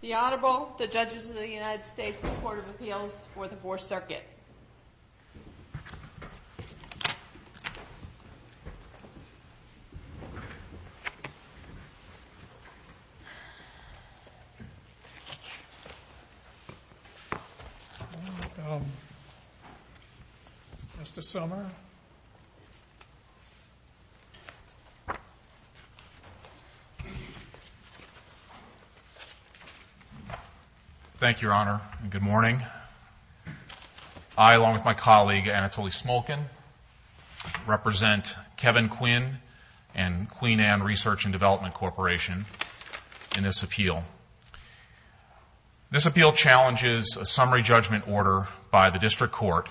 The Honorable, the Judges of the United States Court of Appeals for the Fourth Circuit. Mr. Sommer Thank you, Your Honor. Good morning. I, along with my colleague, Anatoly Smolkin, represent Kevin Quinn and Queen Anne Research and Development Corporation in this appeal. This appeal challenges a summary judgment order by the District Court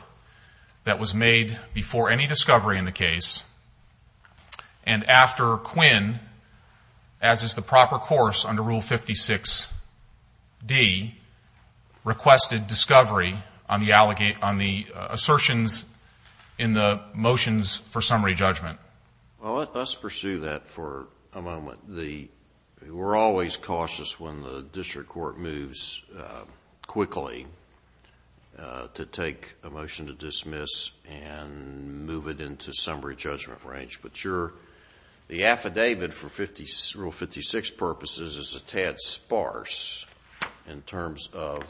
that was made before any discovery in the case, as is the proper course under Rule 56D, requested discovery on the assertions in the motions for summary judgment. Judge Alito Well, let's pursue that for a moment. We're always cautious when the District Court moves quickly to take a motion to dismiss and move it into summary judgment range, but the affidavit for Rule 56 purposes is a tad sparse in terms of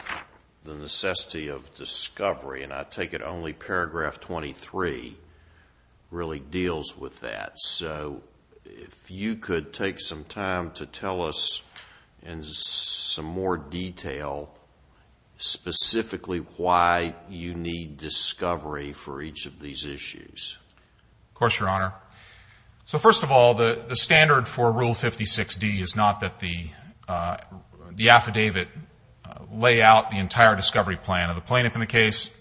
the necessity of discovery, and I take it only paragraph 23 really deals with that. So if you could take some time to tell us in some more detail specifically why you need these issues. Mr. Sommer Of course, Your Honor. So first of all, the standard for Rule 56D is not that the affidavit lay out the entire discovery plan of the plaintiff in the case.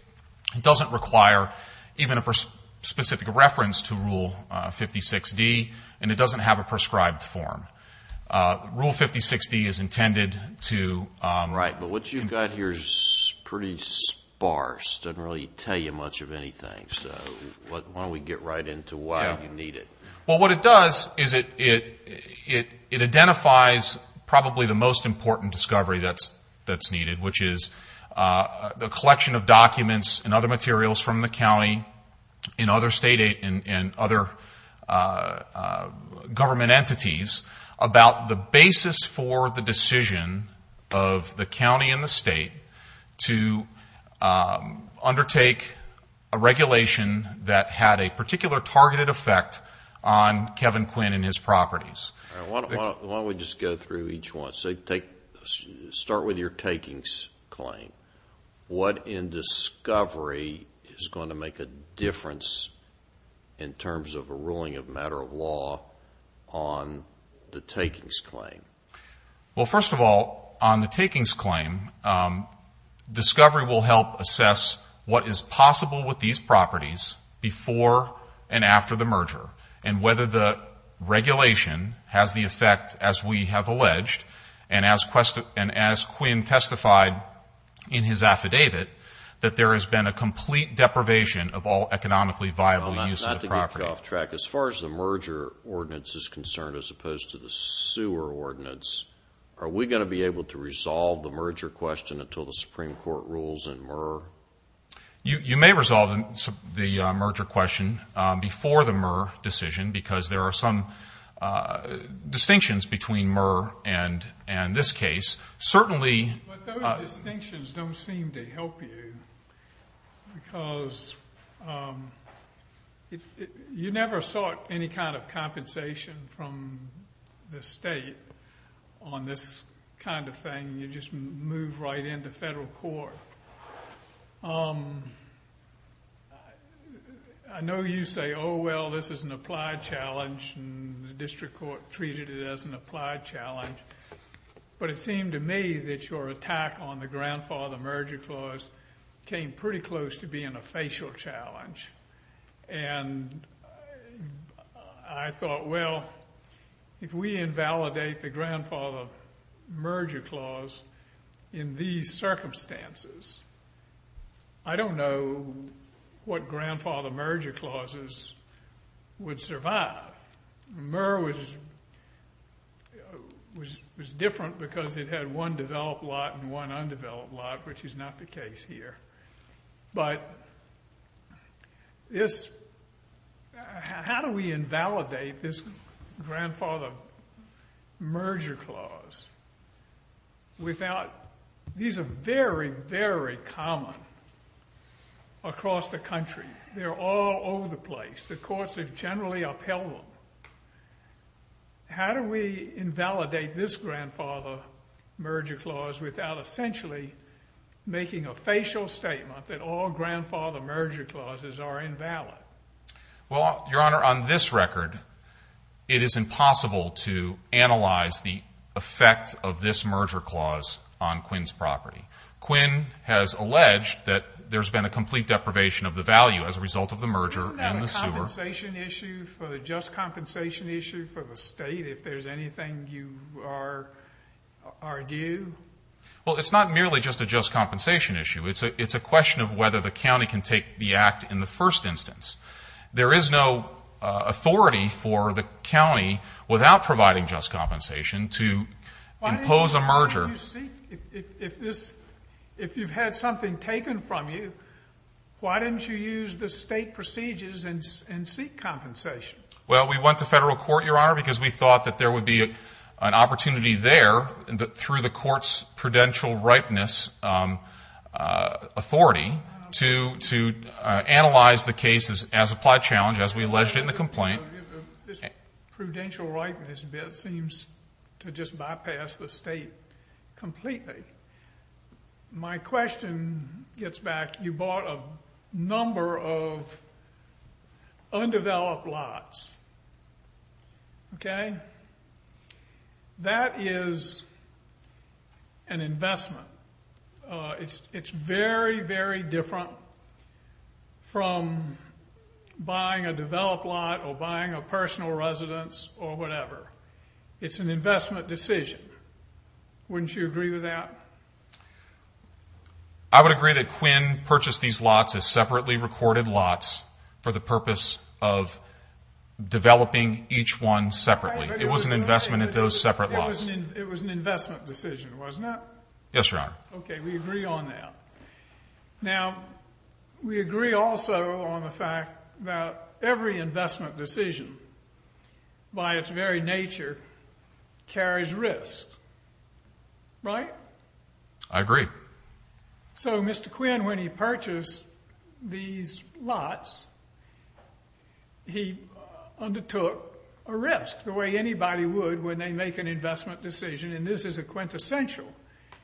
It doesn't require even a specific reference to Rule 56D, and it doesn't have a prescribed form. Rule 56D is intended to Judge Alito Right. But what you've got here is pretty sparse, doesn't really tell you much of anything. So why don't we get right into why you need it. Mr. Sommer Well, what it does is it identifies probably the most important discovery that's needed, which is the collection of documents and other materials from the county and other government entities about the basis for the decision of the county and the state to undertake a regulation that had a particular targeted effect on Kevin Quinn and his properties. Judge Alito All right. Why don't we just go through each one. So start with your takings claim. What in discovery is going to make a difference in terms of a ruling of matter of law on the takings claim? Mr. Sommer Well, first of all, on the takings claim, discovery will help assess what is possible with these properties before and after the merger and whether the regulation has the effect, as we have alleged, and as Quinn testified in his affidavit, that there has been a complete deprivation of all economically viable use of the property. Judge Alito Well, not to get you off track, as far as the merger ordinance is concerned, as opposed to the sewer ordinance, are we going to be able to resolve the merger question until the Supreme Court rules in Murr? Mr. Sommer You may resolve the merger question before the Murr decision because there are some distinctions between Murr and this case. Judge Alito But those distinctions don't seem to help you because you never sought any kind of compensation from the state on this kind of thing. You just move right into federal court. I know you say, oh, well, this is an applied challenge and the district court treated it as an applied challenge, but it seemed to me that your attack on the grandfather merger clause came pretty close to being a facial challenge. And I thought, well, if we invalidate the grandfather merger clause in these circumstances, I don't know what grandfather merger clauses would survive. Murr was different because it had one developed lot and one undeveloped lot, which is not the case here. But how do we invalidate this grandfather merger clause? These are very, very common across the country. They're all over the place. The courts have generally upheld them. How do we invalidate this grandfather merger clause without essentially making a facial statement that all grandfather merger clauses are invalid? Judge Alito Well, Your Honor, on this record, it is impossible to analyze the effect of this merger clause on Quinn's property. Quinn has alleged that there's been a complete deprivation of the value as a result of the merger in the sewer. Judge Graham Isn't that a compensation issue for the just compensation? Are you? Judge Alito Well, it's not merely just a just compensation issue. It's a question of whether the county can take the act in the first instance. There is no authority for the county, without providing just compensation, to impose a merger. Judge Graham Why didn't you seek? If you've had something taken from you, why didn't you use the state procedures and seek compensation? Judge Alito Because we thought that there would be an opportunity there, through the court's prudential ripeness authority, to analyze the case as applied challenge, as we alleged in the complaint. Judge Graham This prudential ripeness bit seems to just bypass the state completely. My question gets back, you bought a number of undeveloped lots. That is an investment. It's very, very different from buying a developed lot or buying a personal residence or whatever. It's an investment decision. Wouldn't you agree with that? Judge Alito I would agree that Quinn purchased these lots as separately recorded lots for the purpose of developing each one separately. It was an investment at those separate lots. Judge Graham It was an investment decision, wasn't it? Judge Alito Yes, Your Honor. Judge Graham Okay, we agree on that. Now, we agree also on the fact that every investment decision, by its very nature, carries risk. Right? Judge Alito I agree. Judge Graham So, Mr. Quinn, when he purchased these lots, he undertook a risk the way anybody would when they make an investment decision, and this is a quintessential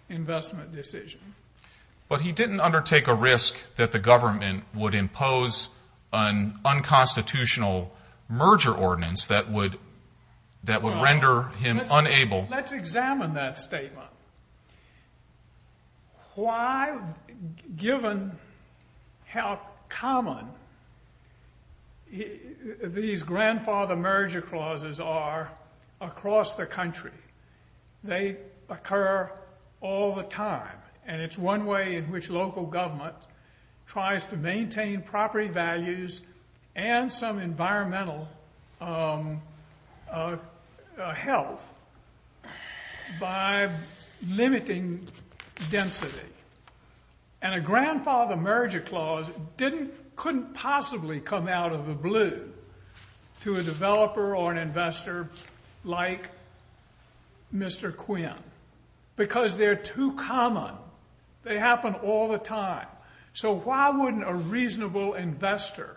investment decision. Judge Graham But he didn't undertake a risk that the government would impose an unconstitutional merger ordinance that would render him unable... Why, given how common these grandfather merger clauses are across the country, they occur all the time, and it's one way in which local government tries to maintain property values and some environmental health by limiting density. And a grandfather merger clause couldn't possibly come out of the blue to a developer or an investor like Mr. Quinn because they're too common. They happen all the time. So why wouldn't a reasonable investor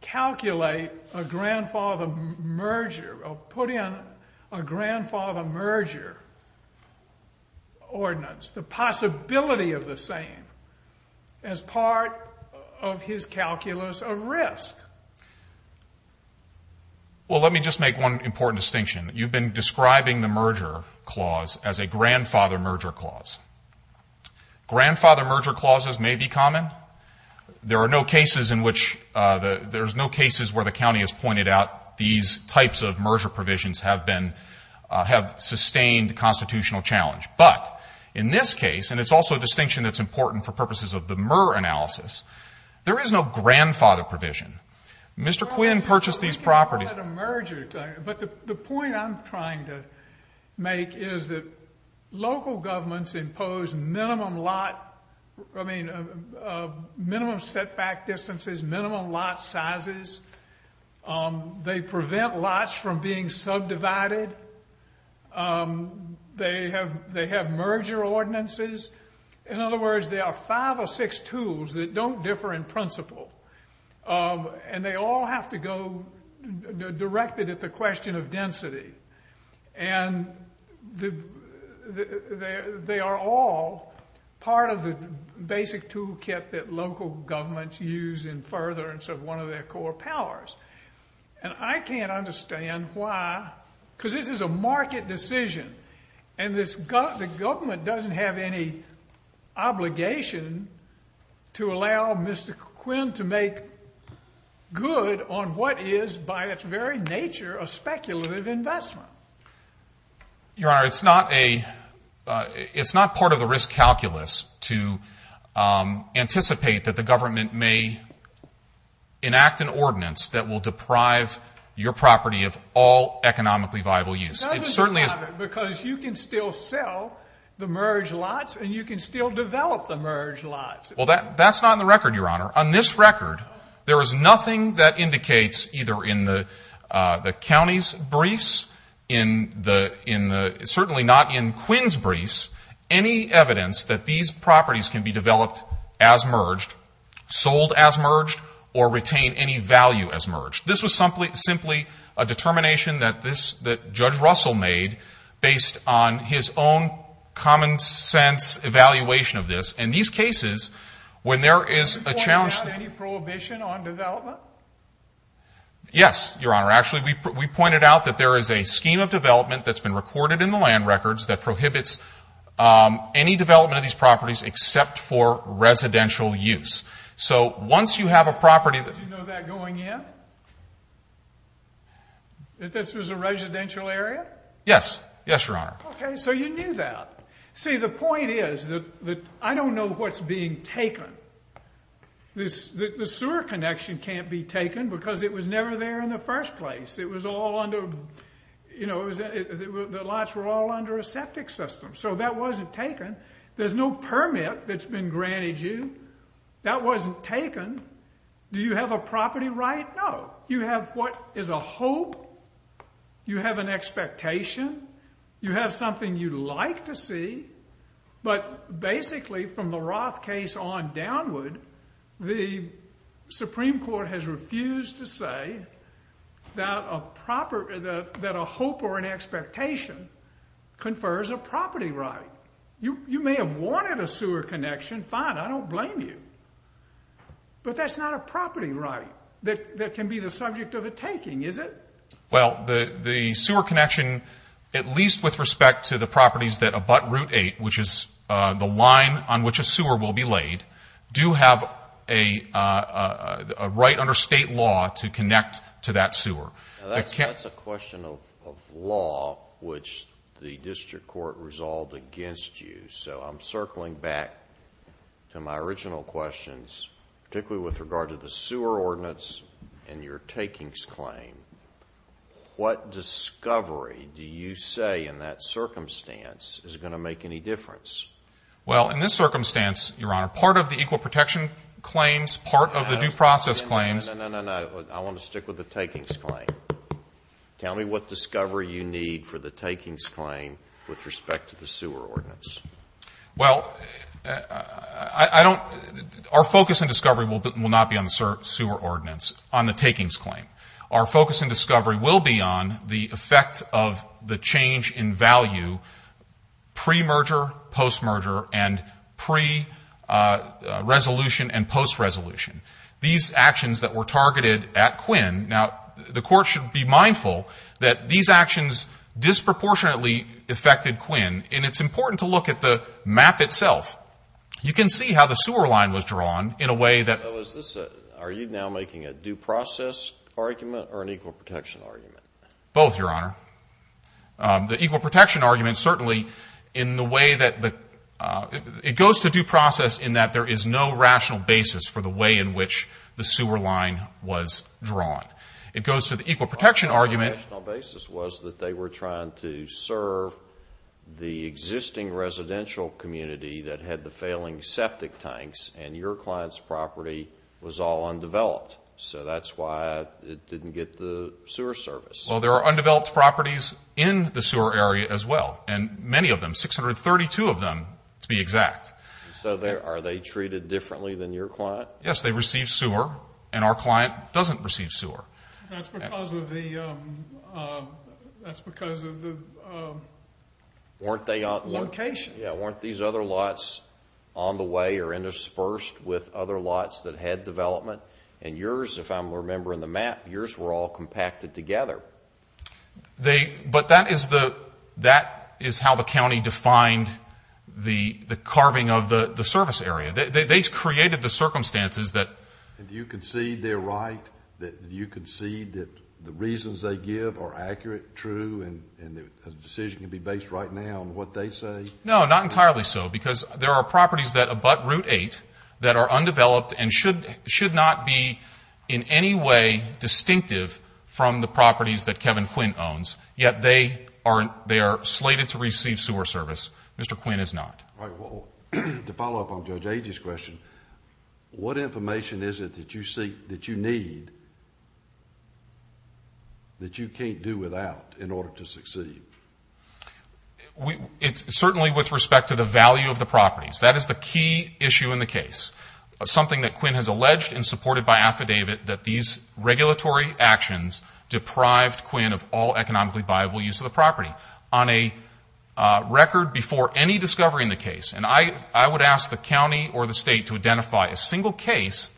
calculate a grandfather merger or put in a grandfather merger ordinance the possibility of the same as part of his calculus of risk? Judge Alito Well, let me just make one important distinction. You've been describing the merger clause as a grandfather merger clause. Grandfather merger clauses may be common. There are no cases where the county has pointed out these types of merger provisions have sustained constitutional challenge. But in this case, and it's also a distinction that's important for purposes of the Murr analysis, there is no grandfather provision. Mr. Quinn purchased these properties... Judge Graham But the point I'm trying to make is that local governments impose minimum lot, I mean, minimum setback distances, minimum lot sizes. They prevent lots from being built from being subdivided. They have merger ordinances. In other words, there are five or six tools that don't differ in principle. And they all have to go directed at the question of density. And they are all part of the basic tool kit that local governments use in furtherance of one of their core powers. And I can't understand why, because this is a market decision. And the government doesn't have any obligation to allow Mr. Quinn to make good on what is by its very nature a speculative investment. Judge Alito Your Honor, it's not part of the risk calculus to anticipate that the government may enact an ordinance that will deprive your property of all economically viable use. It certainly... Mr. Quinn It doesn't deprive it, because you can still sell the merged lots and you can still develop the merged lots. Judge Alito Well, that's not in the record, Your Honor. On this record, there is nothing that indicates either in the county's briefs, certainly not in Quinn's briefs, any evidence that these properties can be developed as merged, sold as merged, or retain any value as merged. This was simply a determination that Judge Russell made based on his own common sense evaluation of this. In these cases, when there is a challenge... Judge Russell Did you point out any prohibition on development? Judge Alito Yes, Your Honor. Actually, we pointed out that there is a scheme of development that's been recorded in the land records that prohibits any development of these properties except for residential use. So once you have a property... Judge Russell Did you know that going in? That this was a residential area? Judge Alito Yes. Yes, Your Honor. Judge Russell Okay. So you knew that. See, the point is that I don't know what's being taken. The sewer connection can't be taken, because it was never there in the first place. It was all under... The lots were all under a septic system. So that wasn't taken. There's no permit that's been granted you. That wasn't taken. Do you have a property right? No. You have what is a hope. You have an expectation. You have something you'd like to see. But basically from the Roth case on downward, the Supreme Court has refused to say that a proper... that a hope or an expectation confers a property right. You may have wanted a sewer connection. Fine. I don't blame you. But that's not a property right that can be the subject of a taking, is it? Judge Alito Well, the sewer connection, at least with respect to the properties that abut Route 8, which is the line on which a sewer will be laid, do have a right under state law to connect to that sewer. Judge McAuliffe That's a question of law, which the district court resolved against you. So I'm circling back to my original questions, particularly with regard to the sewer ordinance and your takings claim. What discovery do you say in that circumstance is going to make any difference? Judge Alito Well, in this circumstance, Your Honor, part of the equal protection claims, part of the due process claims... Judge McAuliffe No, no, no, no, no. I want to stick with the takings claim. Tell me what discovery you need for the takings claim with respect to the sewer ordinance. Judge Alito Well, I don't... our focus and discovery will not be on the sewer ordinance, on the takings claim. Our focus and discovery will be on the effect of the change in value pre-merger, post-merger, and pre-resolution and post-resolution. These actions that were targeted at Quinn. Now, the court should be mindful that these actions disproportionately affected Quinn, and it's important to look at the map itself. You can see how the sewer line was drawn in a way that... Judge McAuliffe Are you now making a due process argument or an equal protection argument? Judge Alito Both, Your Honor. The equal protection argument certainly, in the way that the... it goes to due process in that there is no rational basis for the way in which the sewer line was drawn. It goes to the equal protection argument... Judge McAuliffe The rational basis was that they were trying to serve the existing residential community that had the failing septic tanks, and your client's property was all undeveloped. So that's why it didn't get the sewer service. Judge Alito Well, there are undeveloped properties in the sewer area as well, and many of them, 632 of them to be exact. Judge McAuliffe So are they treated differently than your client? Judge McAuliffe Yes, they receive sewer, and our client doesn't receive sewer. Judge Braley That's because of the... Judge McAuliffe Weren't they... Judge Braley Location. Judge McAuliffe Yeah, weren't these other lots on the way or interspersed with other if I'm remembering the map, yours were all compacted together. Judge McAuliffe But that is the... that is how the county defined the carving of the service area. They created the circumstances that... Judge Braley Do you concede they're right? Do you concede that the reasons they give are accurate, true, and the decision can be based right now on what they say? Judge McAuliffe No, not entirely so, because there are properties that abut Route 8 that are undeveloped and should not be in any way distinctive from the properties that Kevin Quinn owns, yet they are slated to receive sewer service. Mr. Quinn is not. Judge Braley All right, well, to follow up on Judge Agee's question, what information is it that you seek, that you need, that you can't do without in order to succeed? Judge McAuliffe It's certainly with respect to the value of the properties. That is the key issue in the case, something that Quinn has alleged and supported by affidavit that these regulatory actions deprived Quinn of all economically viable use of the property. On a record before any discovery in the case, and I would ask the county or the state to identify a single case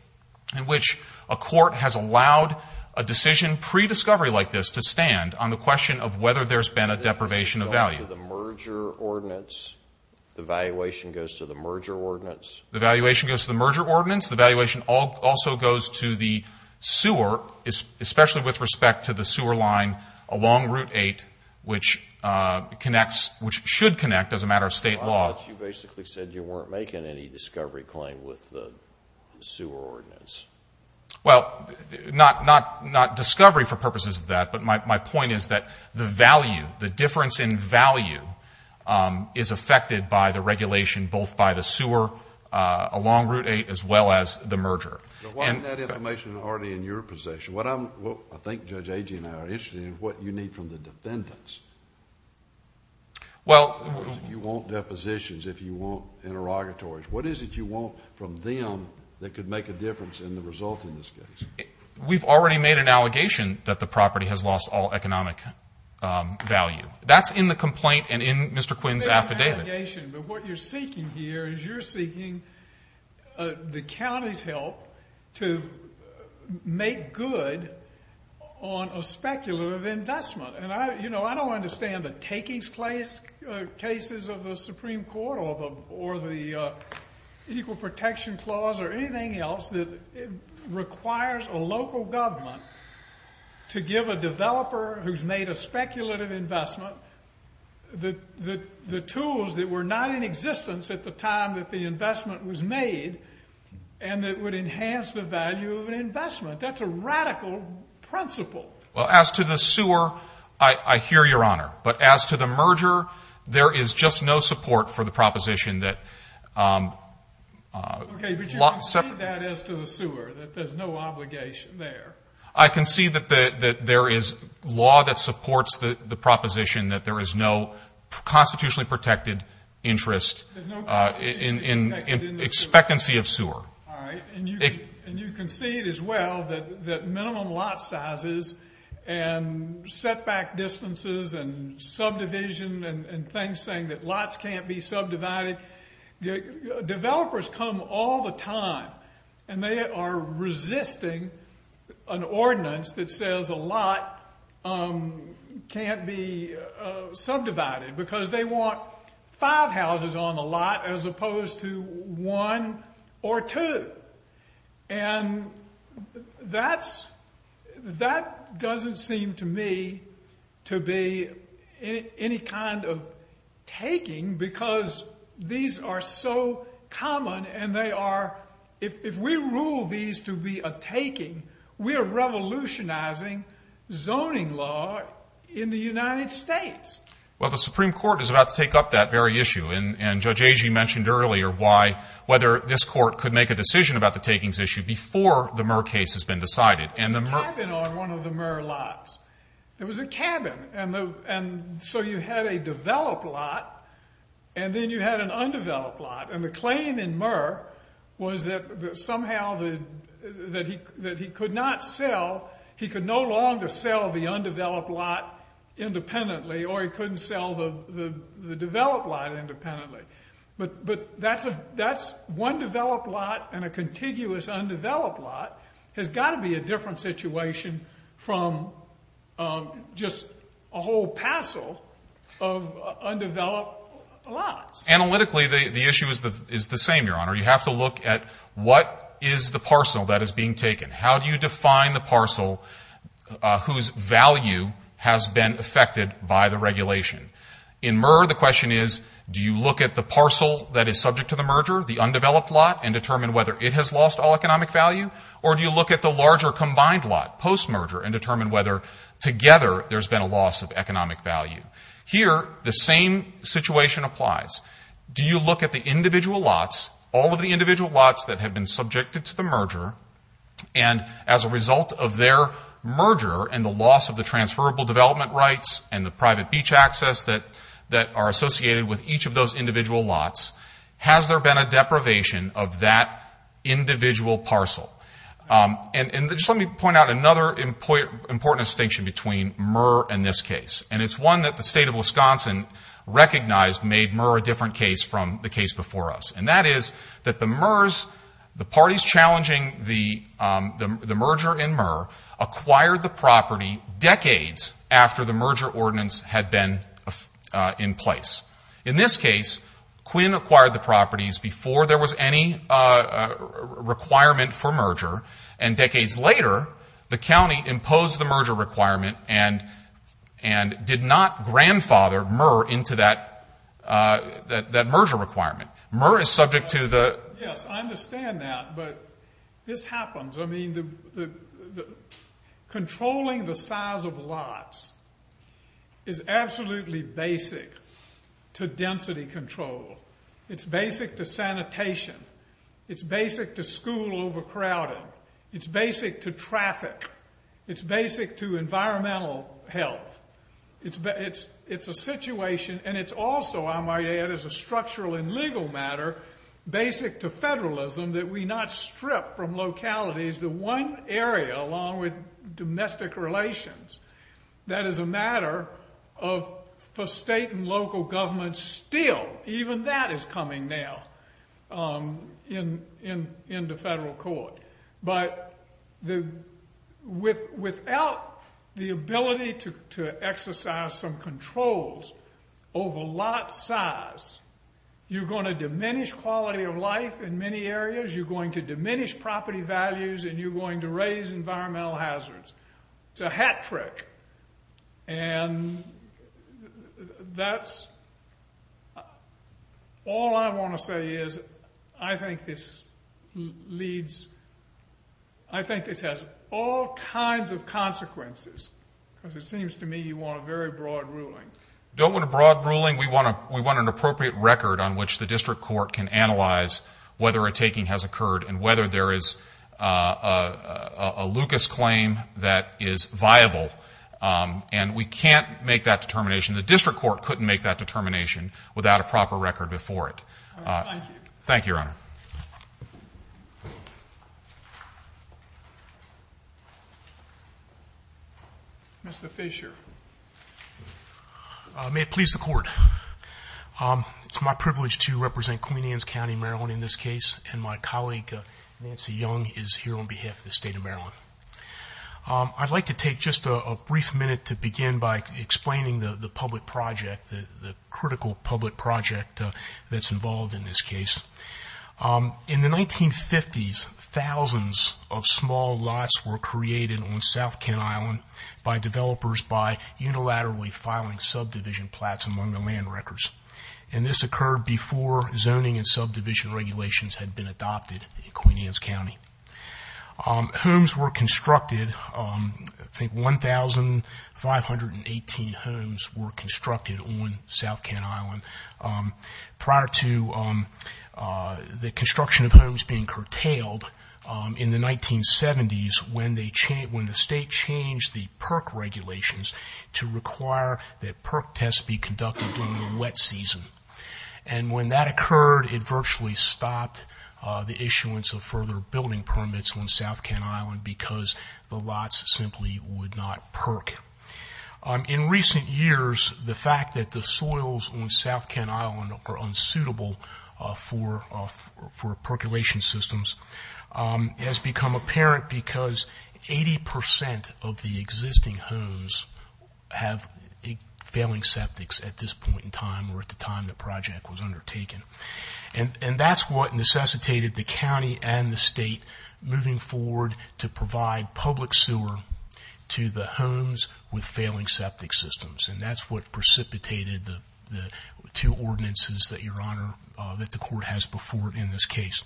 in which a court has allowed a decision pre-discovery like this to stand on the question of whether there's been a deprivation of value. The valuation goes to the merger ordinance. The valuation also goes to the sewer, especially with respect to the sewer line along Route 8, which connects, which should connect as a matter of state law. Judge Braley You basically said you weren't making any discovery claim with the sewer ordinance. Judge McAuliffe Well, not discovery for purposes of that, but my point is that the value, the difference in value is affected by the regulation both by the sewer along Route 8 as well as the merger. Judge Braley Why isn't that information already in your possession? What I'm, I think Judge Agee and I are interested in is what you need from the defendants. Judge McAuliffe Well. Judge Braley If you want depositions, if you want interrogatories, what is it you want from them that could make a difference in the result in this case? Judge McAuliffe We've already made an allegation that the property has lost all economic value. That's in the complaint and in Mr. Quinn's affidavit. Judge Braley That's in the allegation, but what you're seeking here is you're seeking the county's help to make good on a speculative investment. And I, you know, I don't understand the takings place cases of the Supreme Court or the Equal Protection Clause or anything else that requires a local government to give a developer who's made a speculative investment the tools that were not in existence at the time that the investment was made and that would enhance the value of an investment. That's a radical principle. Judge McAuliffe Well, as to the sewer, I hear your Honor. But as to the merger, there is just no support for the proposition that... Judge Braley I can see that there is law that supports the proposition that there is no constitutionally protected interest in expectancy of sewer. Judge McAuliffe All right. And you can see it as well that minimum lot sizes and setback distances and subdivision and things saying that lots can't be subdivided. Developers come all the time and they are resisting an ordinance that says a lot can't be subdivided because they want five houses on the lot as opposed to one or two. And that doesn't seem to me to be any kind of taking because these are so common and they are... If we rule these to be a taking, we are revolutionizing zoning law in the United States. Judge McAuliffe Well, the Supreme Court is about to take up that very issue. And Judge Agee mentioned earlier why... whether this court could make a decision about the takings issue before the Murr case has been decided. Judge Braley There was a cabin on one of the Murr lots. There was a cabin. And so you had a developed lot and then you had an undeveloped lot. And the claim in Murr was that somehow he could not sell, he could no longer sell the undeveloped lot independently or he couldn't sell the developed lot independently. But that's one developed lot and a contiguous undeveloped lot has got to be a different situation from just a whole parcel of undeveloped lots. Judge McAuliffe Analytically, the issue is the same, Your Honor. You have to look at what is the parcel that is being taken. How do you define the parcel whose value has been affected by the regulation? In Murr, the question is, do you look at the parcel that is subject to the merger, the undeveloped lot, and determine whether it has lost all economic value? Or do you look at the larger combined lot, post-merger, and determine whether together there's been a loss of economic value? Here, the same situation applies. Do you look at the individual lots, all of the individual lots that have been subjected to the merger, and as a result of their merger and the loss of the transferable development rights and the private beach access that are associated with each of those individual lots, has there been a deprivation of that individual parcel? And just let me point out another important distinction between Murr and this case. And it's one that the State of Wisconsin recognized made Murr a different case from the case before us. And that is that the parties challenging the merger in Murr acquired the property decades after the merger ordinance had been in place. In this case, Quinn acquired the properties before there was any requirement for merger. And decades later, the county imposed the merger requirement and did not grandfather Murr into that merger requirement. Murr is subject to the Yes, I understand that. But this happens. I mean, controlling the size of lots is absolutely basic to density control. It's basic to sanitation. It's basic to school overcrowding. It's basic to traffic. It's basic to environmental health. It's a situation, and it's also, I might add, as a structural and legal matter, basic to federalism, that we not strip from localities the one area, along with domestic relations. That is a matter of, for state and local governments, still, even that is coming now into federal court. But without the ability to exercise some controls over lot size, you're going to diminish quality of life in many areas. You're going to diminish property values, and you're going to raise environmental hazards. It's a hat trick. And that's all I want to say is I think this leads, I think this has all kinds of consequences, because it seems to me you want a very broad ruling. We don't want a broad ruling. We want an appropriate record on which the district court can analyze whether a taking has occurred and whether there is a Lucas claim that is viable. And we can't make that determination. The district court couldn't make that determination without a proper record before it. Thank you. Thank you, Your Honor. Mr. Fisher. May it please the court. It's my privilege to represent Queen Anne's County, Maryland, in this case. And my colleague, Nancy Young, is here on behalf of the state of Maryland. I'd like to take just a brief minute to begin by explaining the public project, the critical public project, that's involved in this case. In the 1950s, thousands of small lots were created on South Kent Island by developers by unilaterally filing subdivision plots among the land records. And this occurred before zoning and subdivision regulations had been adopted in Queen Anne's County. Homes were constructed, I think 1,518 homes were constructed on South Kent Island prior to the construction of homes being curtailed in the 1970s when the state changed the PERC regulations to require that PERC tests be conducted during the wet season. And when that occurred, it virtually stopped the issuance of further building permits on South Kent Island because the lots simply would not PERC. In recent years, the fact that the soils on South Kent Island are unsuitable for percolation systems has become apparent because 80% of the existing homes have failing septics at this point in time or at the time the project was undertaken. And that's what necessitated the with failing septic systems. And that's what precipitated the two ordinances that Your Honor, that the court has before in this case.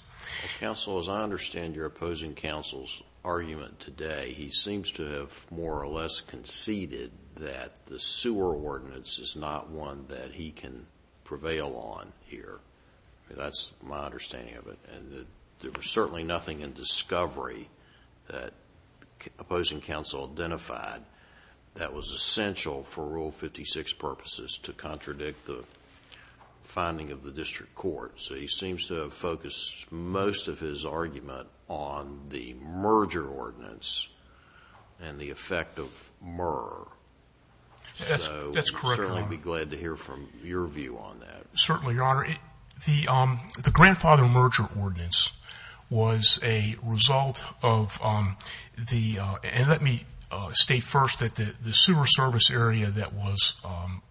Counsel, as I understand your opposing counsel's argument today, he seems to have more or less conceded that the sewer ordinance is not one that he can prevail on here. That's my understanding of it. And there was certainly nothing in discovery that opposing counsel identified that was essential for Rule 56 purposes to contradict the finding of the district court. So he seems to have focused most of his argument on the merger ordinance and the effect of MER. That's correct, Your Honor. We'd certainly be glad to hear from your view on that. Certainly, Your Honor. The grandfather merger ordinance was a result of the, and let me state first that the sewer service area that was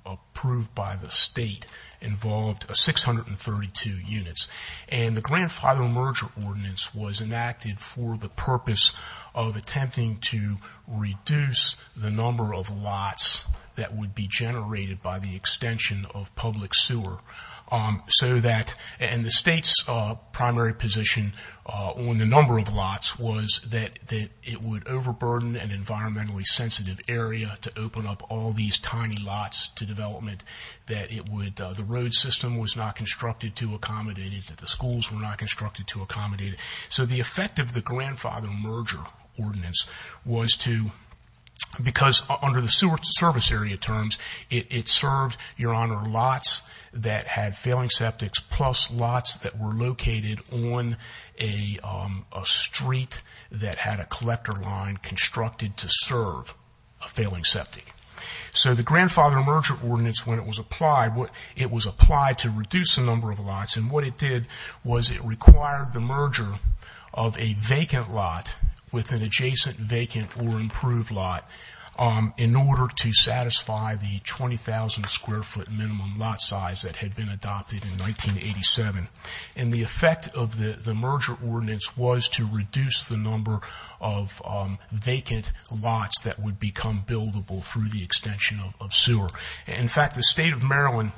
approved by the state involved 632 units. And the grandfather merger ordinance was enacted for the purpose of attempting to reduce the number of lots that would be generated by the extension of public sewer so that, and the sensitive area to open up all these tiny lots to development that it would, the road system was not constructed to accommodate it, that the schools were not constructed to accommodate it. So the effect of the grandfather merger ordinance was to, because under the sewer service area terms, it served, Your Honor, lots that had failing septics plus lots that were located on a street that had a collector line constructed to serve a failing septic. So the grandfather merger ordinance, when it was applied, it was applied to reduce the number of lots. And what it did was it required the merger of a vacant lot with an adjacent vacant or improved lot in order to satisfy the 20,000 square foot minimum lot size that had been adopted in 1987. And the effect of the merger ordinance was to reduce the number of vacant lots that would become buildable through the extension of sewer. In fact, the state of Maryland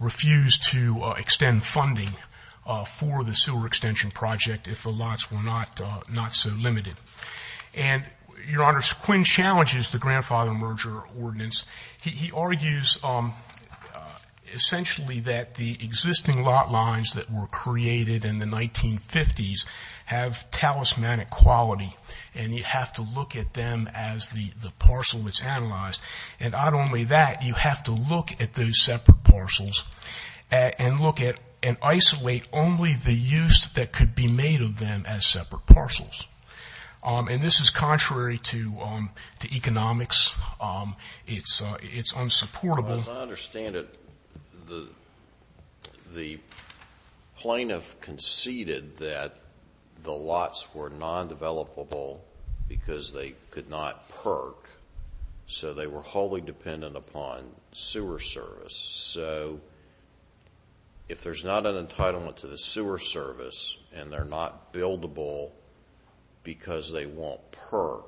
refused to extend funding for the sewer extension project if the lots were not so limited. And, Your Honor, Quinn challenges the grandfather merger ordinance. He argues essentially that the existing lot lines that were created in the 1950s have talismanic quality and you have to look at them as the parcel that's analyzed. And not only that, you have to look at those separate parcels and look at and isolate only the use that could be made of them as separate parcels. And this is contrary to economics. It's unsupportable. As I understand it, the plaintiff conceded that the lots were non-developable because they could not perk, so they were wholly dependent upon sewer service. So if there's not an entitlement to the sewer service and they're not buildable because they won't perk,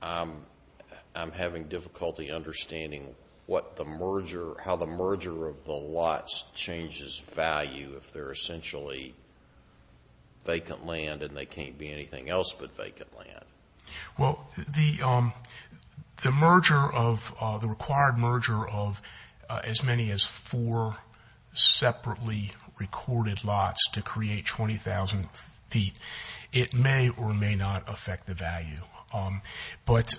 I'm having difficulty understanding what the merger, how the merger of the lots changes value if they're essentially vacant land and they can't be anything else but vacant land. Well, the merger of, the required merger of as many as four separately recorded lots to create 20,000 feet, it may or may not affect the value. But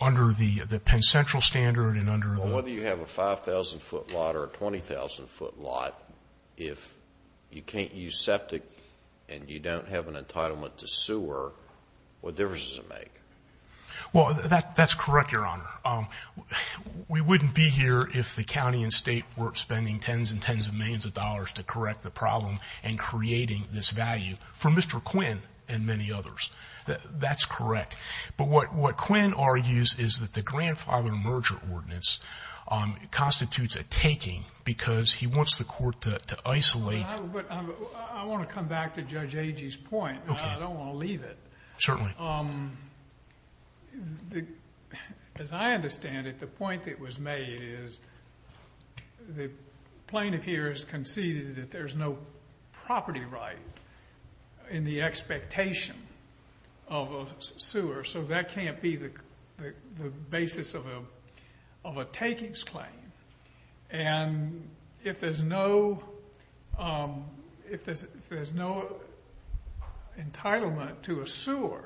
under the Penn Central standard and under the- Well, whether you have a 5,000 foot lot or a 20,000 foot lot, if you can't use septic and you don't have an entitlement to sewer, what difference does it make? Well, that's correct, Your Honor. We wouldn't be here if the county and state weren't spending tens and tens of millions of dollars to correct the problem and creating this value for Mr. Quinn and many others. That's correct. But what Quinn argues is that the grandfather merger ordinance constitutes a taking because he wants the court to isolate- I want to come back to Judge Agee's point, but I don't want to leave it. Certainly. As I understand it, the point that was made is the plaintiff here has conceded that there's no property right in the expectation of a sewer, so that can't be the basis of a takings claim, and if there's no entitlement to a sewer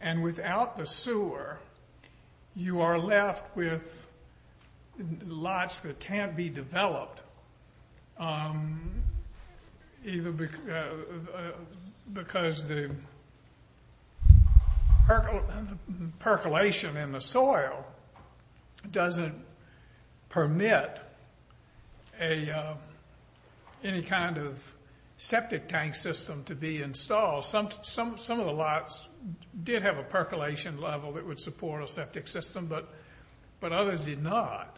and without the sewer, you are left with lots that can't be developed either because the percolation in the soil doesn't permit any kind of septic tank system to be installed. Some of the lots did have a percolation level that would support a septic system, but others did not.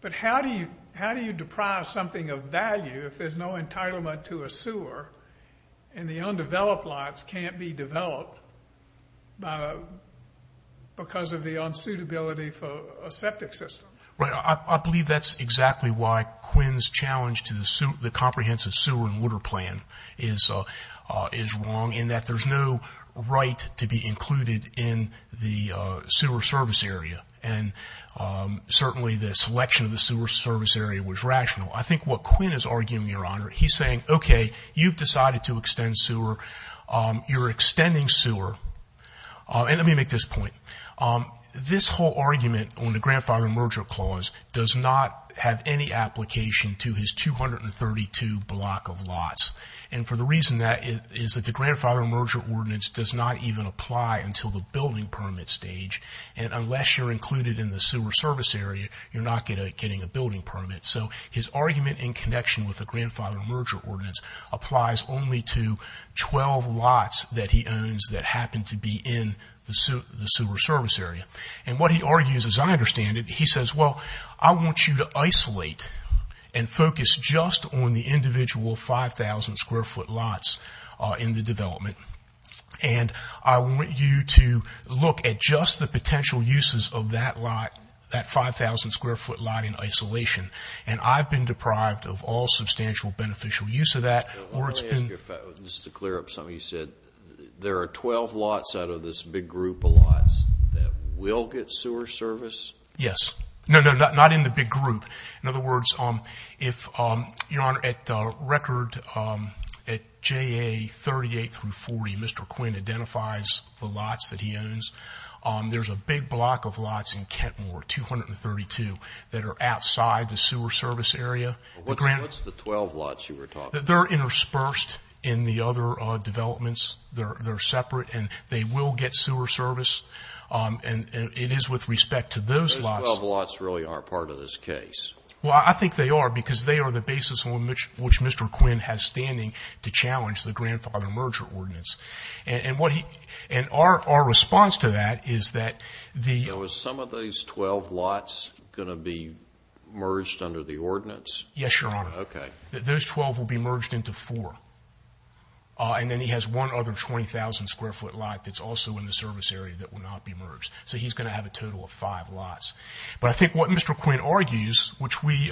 But how do you deprive something of value if there's no entitlement to a sewer and the undeveloped lots can't be developed because of the unsuitability for a septic system? Right, I believe that's exactly why Quinn's challenge to the comprehensive sewer and water certainly the selection of the sewer service area was rational. I think what Quinn is arguing, Your Honor, he's saying, okay, you've decided to extend sewer, you're extending sewer, and let me make this point. This whole argument on the Grandfather Merger Clause does not have any application to his 232 block of lots, and for the reason that is that the Grandfather Merger Ordinance does not even apply until the building permit stage, and unless you're included in the sewer service area, you're not getting a building permit. So his argument in connection with the Grandfather Merger Ordinance applies only to 12 lots that he owns that happen to be in the sewer service area. And what he argues, as I understand it, he says, well, I want you to isolate and focus just on the individual 5,000 square foot lots in the development. And I want you to look at just the potential uses of that lot, that 5,000 square foot lot in isolation, and I've been deprived of all substantial beneficial use of that. Let me ask you, just to clear up something you said, there are 12 lots out of this big group of lots that will get sewer service? Yes. No, no, not in the big group. In other words, if, Your Honor, at record, at JA 38 through 40, Mr. Quinn identifies the lots that he owns. There's a big block of lots in Kentmore, 232, that are outside the sewer service area. What's the 12 lots you were talking about? They're interspersed in the other developments. They're separate, and they will get sewer service, and it is with respect to those lots. Those 12 lots really aren't part of this case? Well, I think they are, because they are the basis on which Mr. Quinn has standing to challenge the grandfather merger ordinance. And our response to that is that the... Now, is some of those 12 lots going to be merged under the ordinance? Yes, Your Honor. Okay. Those 12 will be merged into four, and then he has one other 20,000 square foot lot that's also in the service area that will not be merged. So he's going to have a total of five lots. But I think what Mr. Quinn argues, which we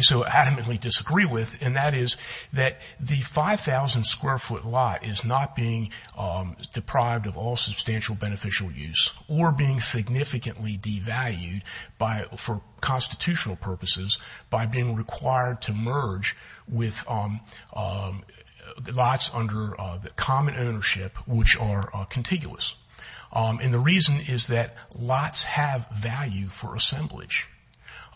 so adamantly disagree with, and that is that the 5,000 square foot lot is not being deprived of all substantial beneficial use or being significantly devalued for constitutional purposes by being required to merge with lots under the common ownership, which are contiguous. And the reason is that lots have value for assemblage.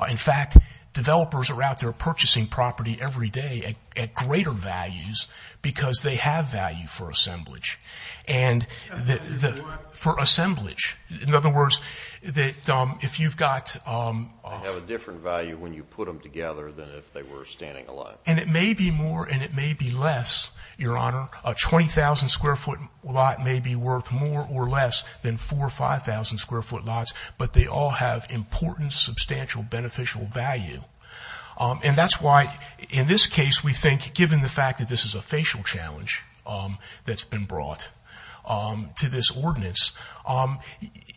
In fact, developers are out there purchasing property every day at greater values because they have value for assemblage. And... For assemblage. In other words, that if you've got... They have a different value when you put them together than if they were standing alone. And it may be more, and it may be less, Your Honor. A 20,000 square foot lot may be worth more or less than 4,000 or 5,000 square foot lots, but they all have important substantial beneficial value. And that's why in this case we think, given the fact that this is a facial challenge that's been brought to this ordinance,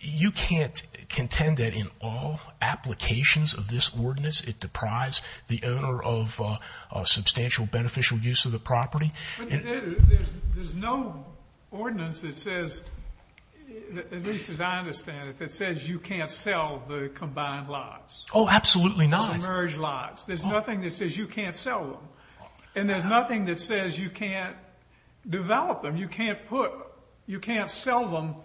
you can't contend that in all applications of this ordinance it deprives the owner of substantial beneficial use of the property. There's no ordinance that says, at least as I understand it, that says you can't sell the combined lots. Oh, absolutely not. Or merge lots. There's nothing that says you can't sell them. And there's nothing that says you can't develop them. You can't put... You can't sell them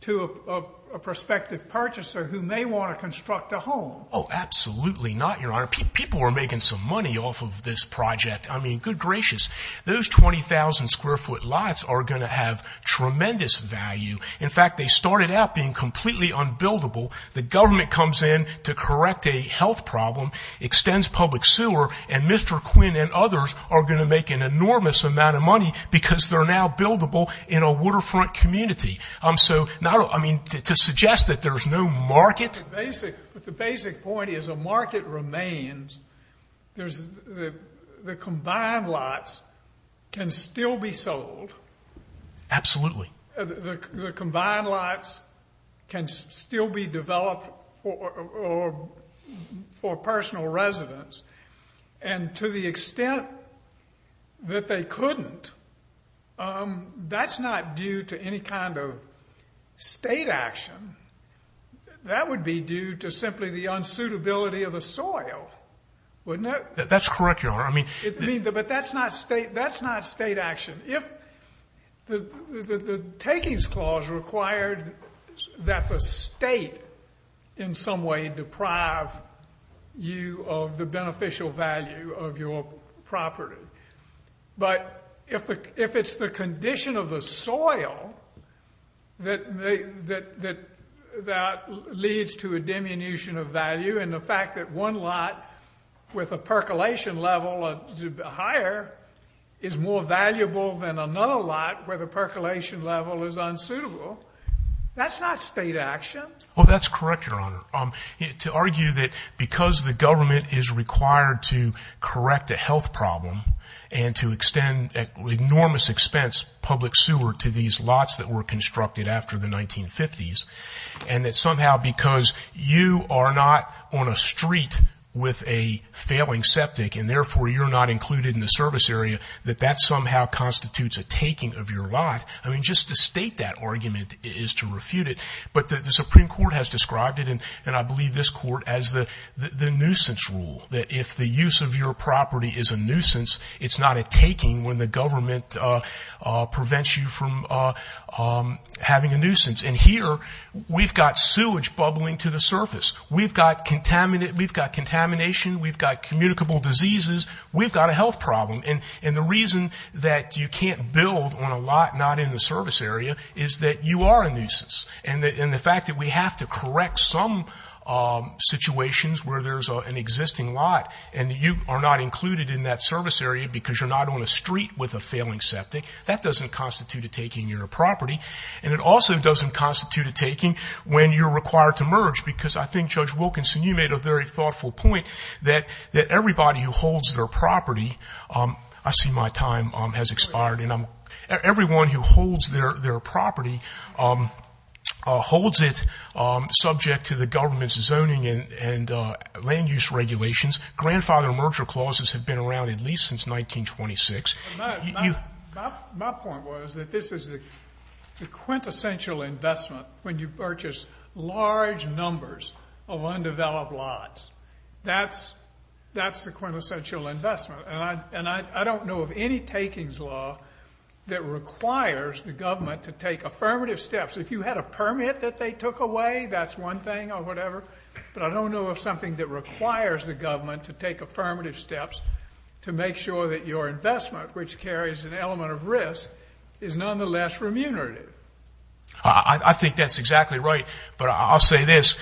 to a prospective purchaser who may want to construct a home. Oh, absolutely not, Your Honor. People are making some money off of this project. I mean, good gracious. Those 20,000 square foot lots are going to have tremendous value. In fact, they started out being completely unbuildable. The government comes in to correct a health problem, extends public sewer, and Mr. Quinn and others are going to make an enormous amount of money because they're now buildable in a waterfront community. So, I mean, to suggest that there's no market... But the basic point is a market remains. The combined lots can still be sold. Absolutely. The combined lots can still be developed for personal residence. And to the extent that they couldn't, that's not due to any kind of state action. That would be due to simply the unsuitability of the soil, wouldn't it? That's correct, Your Honor. I mean... But that's not state action. If the takings clause required that the state in some way deprive you of the beneficial value of your property. But if it's the condition of the soil that leads to a diminution of value and the fact that one lot with a percolation level higher is more valuable than another lot where the percolation level is unsuitable, that's not state action. Oh, that's correct, Your Honor. To argue that because the government is required to correct a health problem and to extend an enormous expense, public sewer, to these lots that were constructed after the 1950s and that somehow because you are not on a street with a failing septic and therefore you're not included in the service area, that that somehow constitutes a taking of your lot. I mean, just to state that argument is to refute it. But the Supreme Court has described it, and I believe this Court, as the nuisance rule. If the use of your property is a nuisance, it's not a taking when the government prevents you from having a nuisance. And here, we've got sewage bubbling to the surface. We've got contamination. We've got communicable diseases. We've got a health problem. And the reason that you can't build on a lot not in the service area is that you are a nuisance. And the fact that we have to correct some situations where there's an existing lot and you are not included in that service area because you're not on a street with a failing septic, that doesn't constitute a taking your property. And it also doesn't constitute a taking when you're required to merge because I think, Judge Wilkinson, you made a very thoughtful point that everybody who holds their property I see my time has expired. Everyone who holds their property holds it subject to the government's zoning and land use regulations. Grandfather merger clauses have been around at least since 1926. My point was that this is the quintessential investment when you purchase large numbers of undeveloped lots. That's the quintessential investment. And I don't know of any takings law that requires the government to take affirmative steps. If you had a permit that they took away, that's one thing or whatever. But I don't know of something that requires the government to take affirmative steps to make sure that your investment, which carries an element of risk, is nonetheless remunerative. I think that's exactly right. But I'll say this,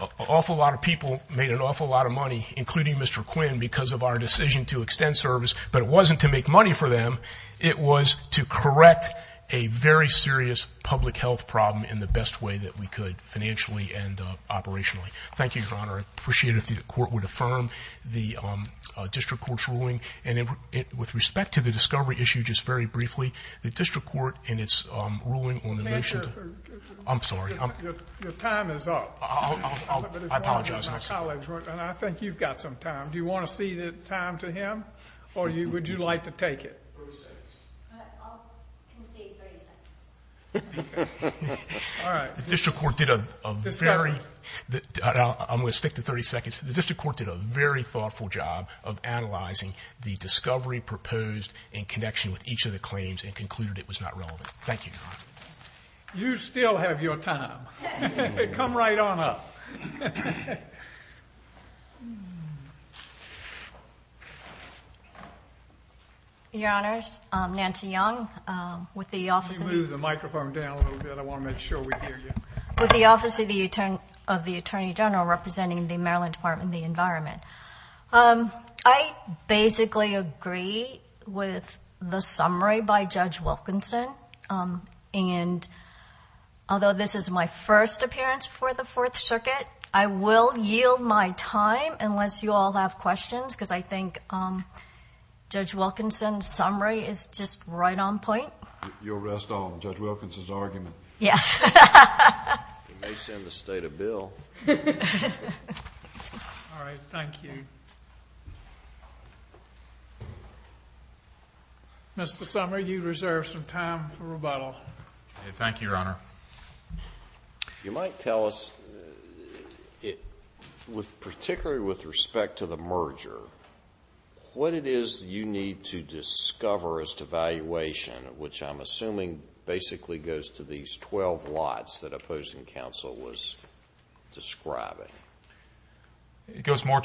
an awful lot of people made an awful lot of money, including Mr. Wilkinson, to extend service. But it wasn't to make money for them. It was to correct a very serious public health problem in the best way that we could, financially and operationally. Thank you, Your Honor. I'd appreciate it if the court would affirm the district court's ruling. And with respect to the discovery issue, just very briefly, the district court in its ruling on the motion... I'm sorry. Your time is up. I apologize. And I think you've got some time. Do you want to cede the time to him? Or would you like to take it? 30 seconds. I'll concede 30 seconds. All right. The district court did a very... I'm going to stick to 30 seconds. The district court did a very thoughtful job of analyzing the discovery proposed in connection with each of the claims and concluded it was not relevant. Thank you, Your Honor. You still have your time. Come right on up. Thank you. Your Honors, I'm Nancy Young. With the Office... Could you move the microphone down a little bit? I want to make sure we hear you. With the Office of the Attorney General representing the Maryland Department of the Environment. I basically agree with the summary by Judge Wilkinson. And although this is my first appearance for the Fourth Circuit, I will yield my time unless you all have questions because I think Judge Wilkinson's summary is just right on point. You'll rest on Judge Wilkinson's argument. Yes. It may send the state a bill. All right. Thank you. Mr. Sumner, you reserve some time for rebuttal. Thank you, Your Honor. You might tell us, particularly with respect to the merger, what it is you need to discover as to valuation, which I'm assuming basically goes to these 12 lots that opposing counsel was describing. It goes more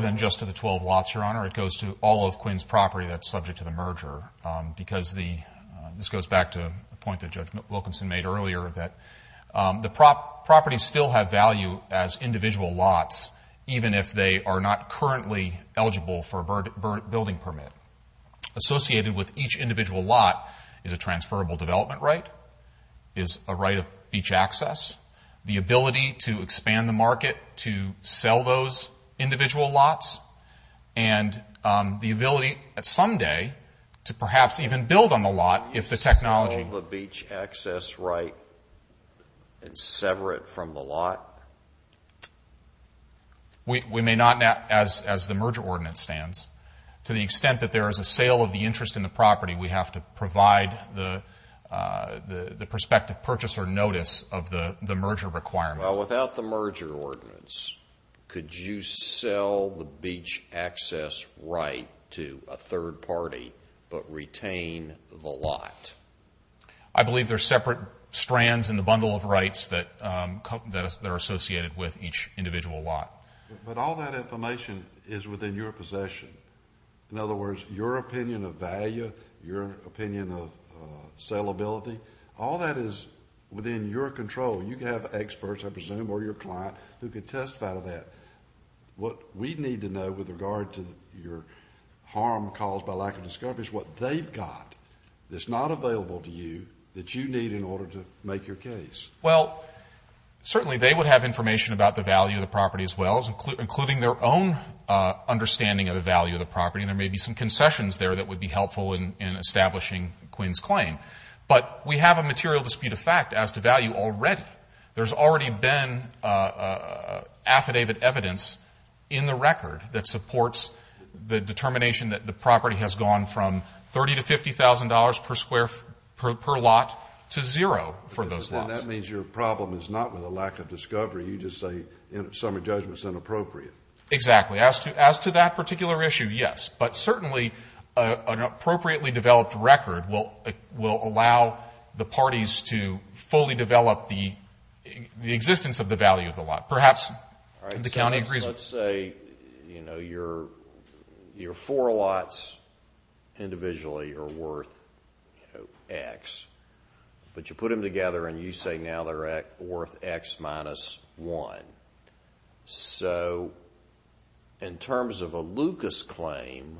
than just to the 12 lots, Your Honor. It goes to all of Quinn's property that's subject to the merger because the... that the properties still have value as individual lots, even if they are not currently eligible for a building permit. Associated with each individual lot is a transferable development right, is a right of beach access, the ability to expand the market to sell those individual lots, and the ability at some day to perhaps even build on the lot if the technology... and sever it from the lot. We may not, as the merger ordinance stands, to the extent that there is a sale of the interest in the property, we have to provide the prospective purchaser notice of the merger requirement. Without the merger ordinance, could you sell the beach access right to a third party but retain the lot? I believe there are separate strands in the bundle of rights that are associated with each individual lot. But all that information is within your possession. In other words, your opinion of value, your opinion of sellability, all that is within your control. You have experts, I presume, or your client who could testify to that. What we need to know with regard to your harm caused by lack of discovery is what they've got. It's not available to you that you need in order to make your case. Well, certainly they would have information about the value of the property as well, including their own understanding of the value of the property. And there may be some concessions there that would be helpful in establishing Quinn's claim. But we have a material dispute of fact as to value already. There's already been affidavit evidence in the record that supports the determination that the property has gone from $30,000 to $50,000 per lot to zero for those lots. And that means your problem is not with a lack of discovery. You just say summary judgment is inappropriate. Exactly. As to that particular issue, yes. But certainly an appropriately developed record will allow the parties to fully develop the existence of the value of the lot. Perhaps the county agrees. Let's say your four lots individually are worth X, but you put them together and you say now they're worth X minus one. So in terms of a Lucas claim,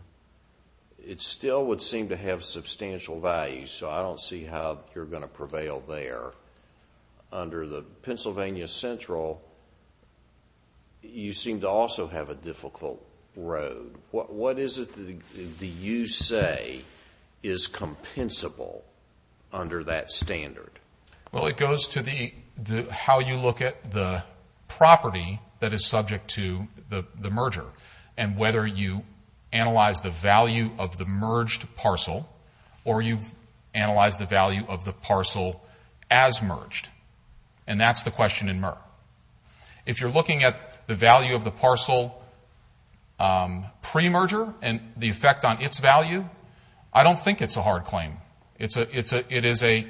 it still would seem to have substantial value. So I don't see how you're going to prevail there. Under the Pennsylvania Central, you seem to also have a difficult road. What is it that you say is compensable under that standard? Well, it goes to how you look at the property that is subject to the merger and whether you analyze the value of the merged parcel or you've analyzed the value of the parcel as merged. And that's the question in MER. If you're looking at the value of the parcel pre-merger and the effect on its value, I don't think it's a hard claim. It is a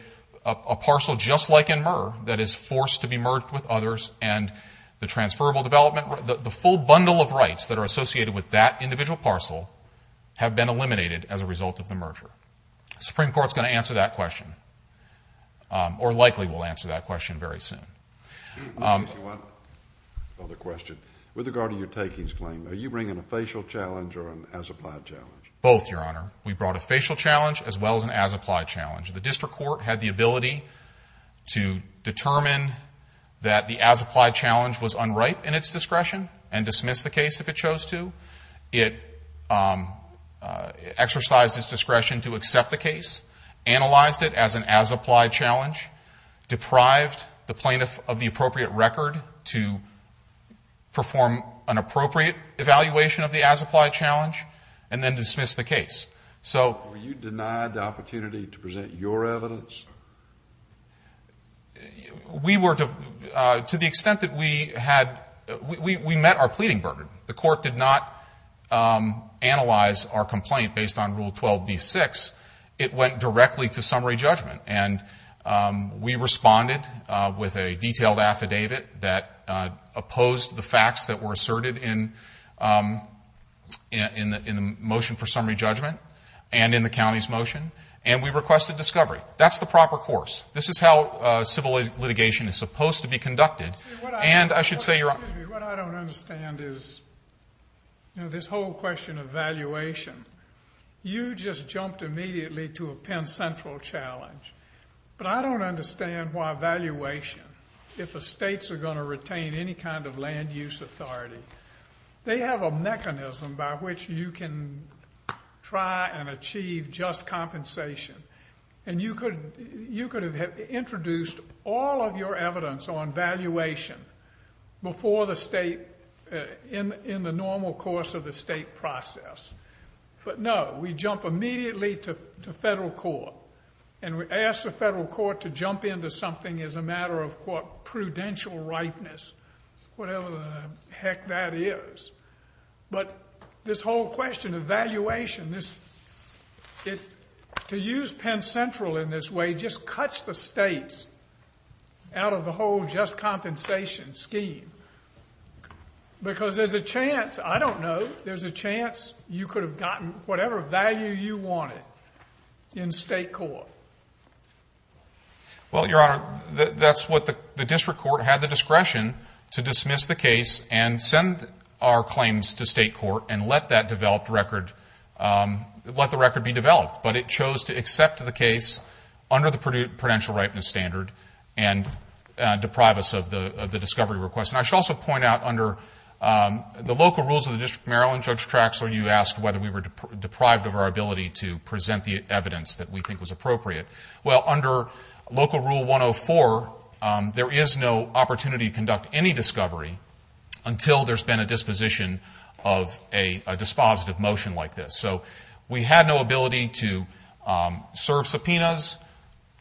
parcel just like in MER that is forced to be merged with others and the transferable development, the full bundle of rights that are associated with that individual parcel have been eliminated as a result of the merger. Supreme Court's going to answer that question. Or likely will answer that question very soon. I have one other question. With regard to your takings claim, are you bringing a facial challenge or an as-applied challenge? Both, Your Honor. We brought a facial challenge as well as an as-applied challenge. The district court had the ability to determine that the as-applied challenge was unripe in its discretion and dismiss the case if it chose to. It exercised its discretion to accept the case, analyzed it as an as-applied challenge, deprived the plaintiff of the appropriate record to perform an appropriate evaluation of the as-applied challenge, and then dismiss the case. Were you denied the opportunity to present your evidence? To the extent that we had, we met our pleading burden. The court did not analyze our complaint based on Rule 12b-6. It went directly to summary judgment. And we responded with a detailed affidavit that opposed the facts that were asserted in the motion for summary judgment and in the county's motion. And we requested discovery. That's the proper course. This is how civil litigation is supposed to be conducted. And I should say you're right. What I don't understand is, you know, this whole question of valuation. You just jumped immediately to a Penn Central challenge. But I don't understand why valuation, if the states are going to retain any kind of land use authority, they have a mechanism by which you can try and achieve just compensation. And you could have introduced all of your evidence on valuation before the state, in the normal course of the state process. But no, we jump immediately to federal court. And we ask the federal court to jump into something as a matter of, quote, prudential rightness, whatever the heck that is. But this whole question of valuation, to use Penn Central in this way just cuts the states out of the whole just compensation scheme. Because there's a chance, I don't know, there's a chance you could have gotten whatever value you wanted in state court. Well, Your Honor, that's what the district court had the discretion to dismiss the case and send our claims to state court and let that developed record, let the record be developed. But it chose to accept the case under the prudential rightness standard and deprive us of the discovery request. And I should also point out under the local rules of the District of Maryland, Judge Traxler, you asked whether we were deprived of our ability to present the evidence that we think was appropriate. Well, under Local Rule 104, there is no opportunity to conduct any discovery until there's been a disposition of a dispositive motion like this. So we had no ability to serve subpoenas,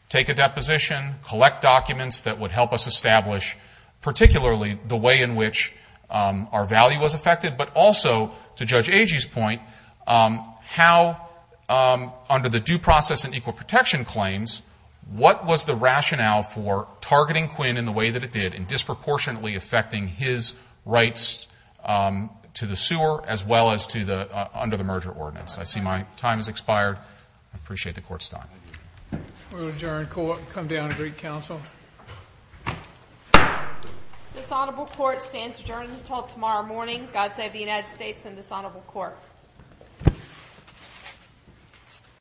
take a deposition, collect documents that would help us establish particularly the way in which our value was affected, but also to Judge Agee's point, how under the due process and equal protection claims, what was the rationale for targeting Quinn in the way that it did and disproportionately affecting his rights to the sewer as well as to the, under the merger ordinance? I see my time has expired. I appreciate the court's time. We'll adjourn court and come down and greet counsel. Dishonorable court stands adjourned until tomorrow morning. God save the United States and dishonorable court. Thank you.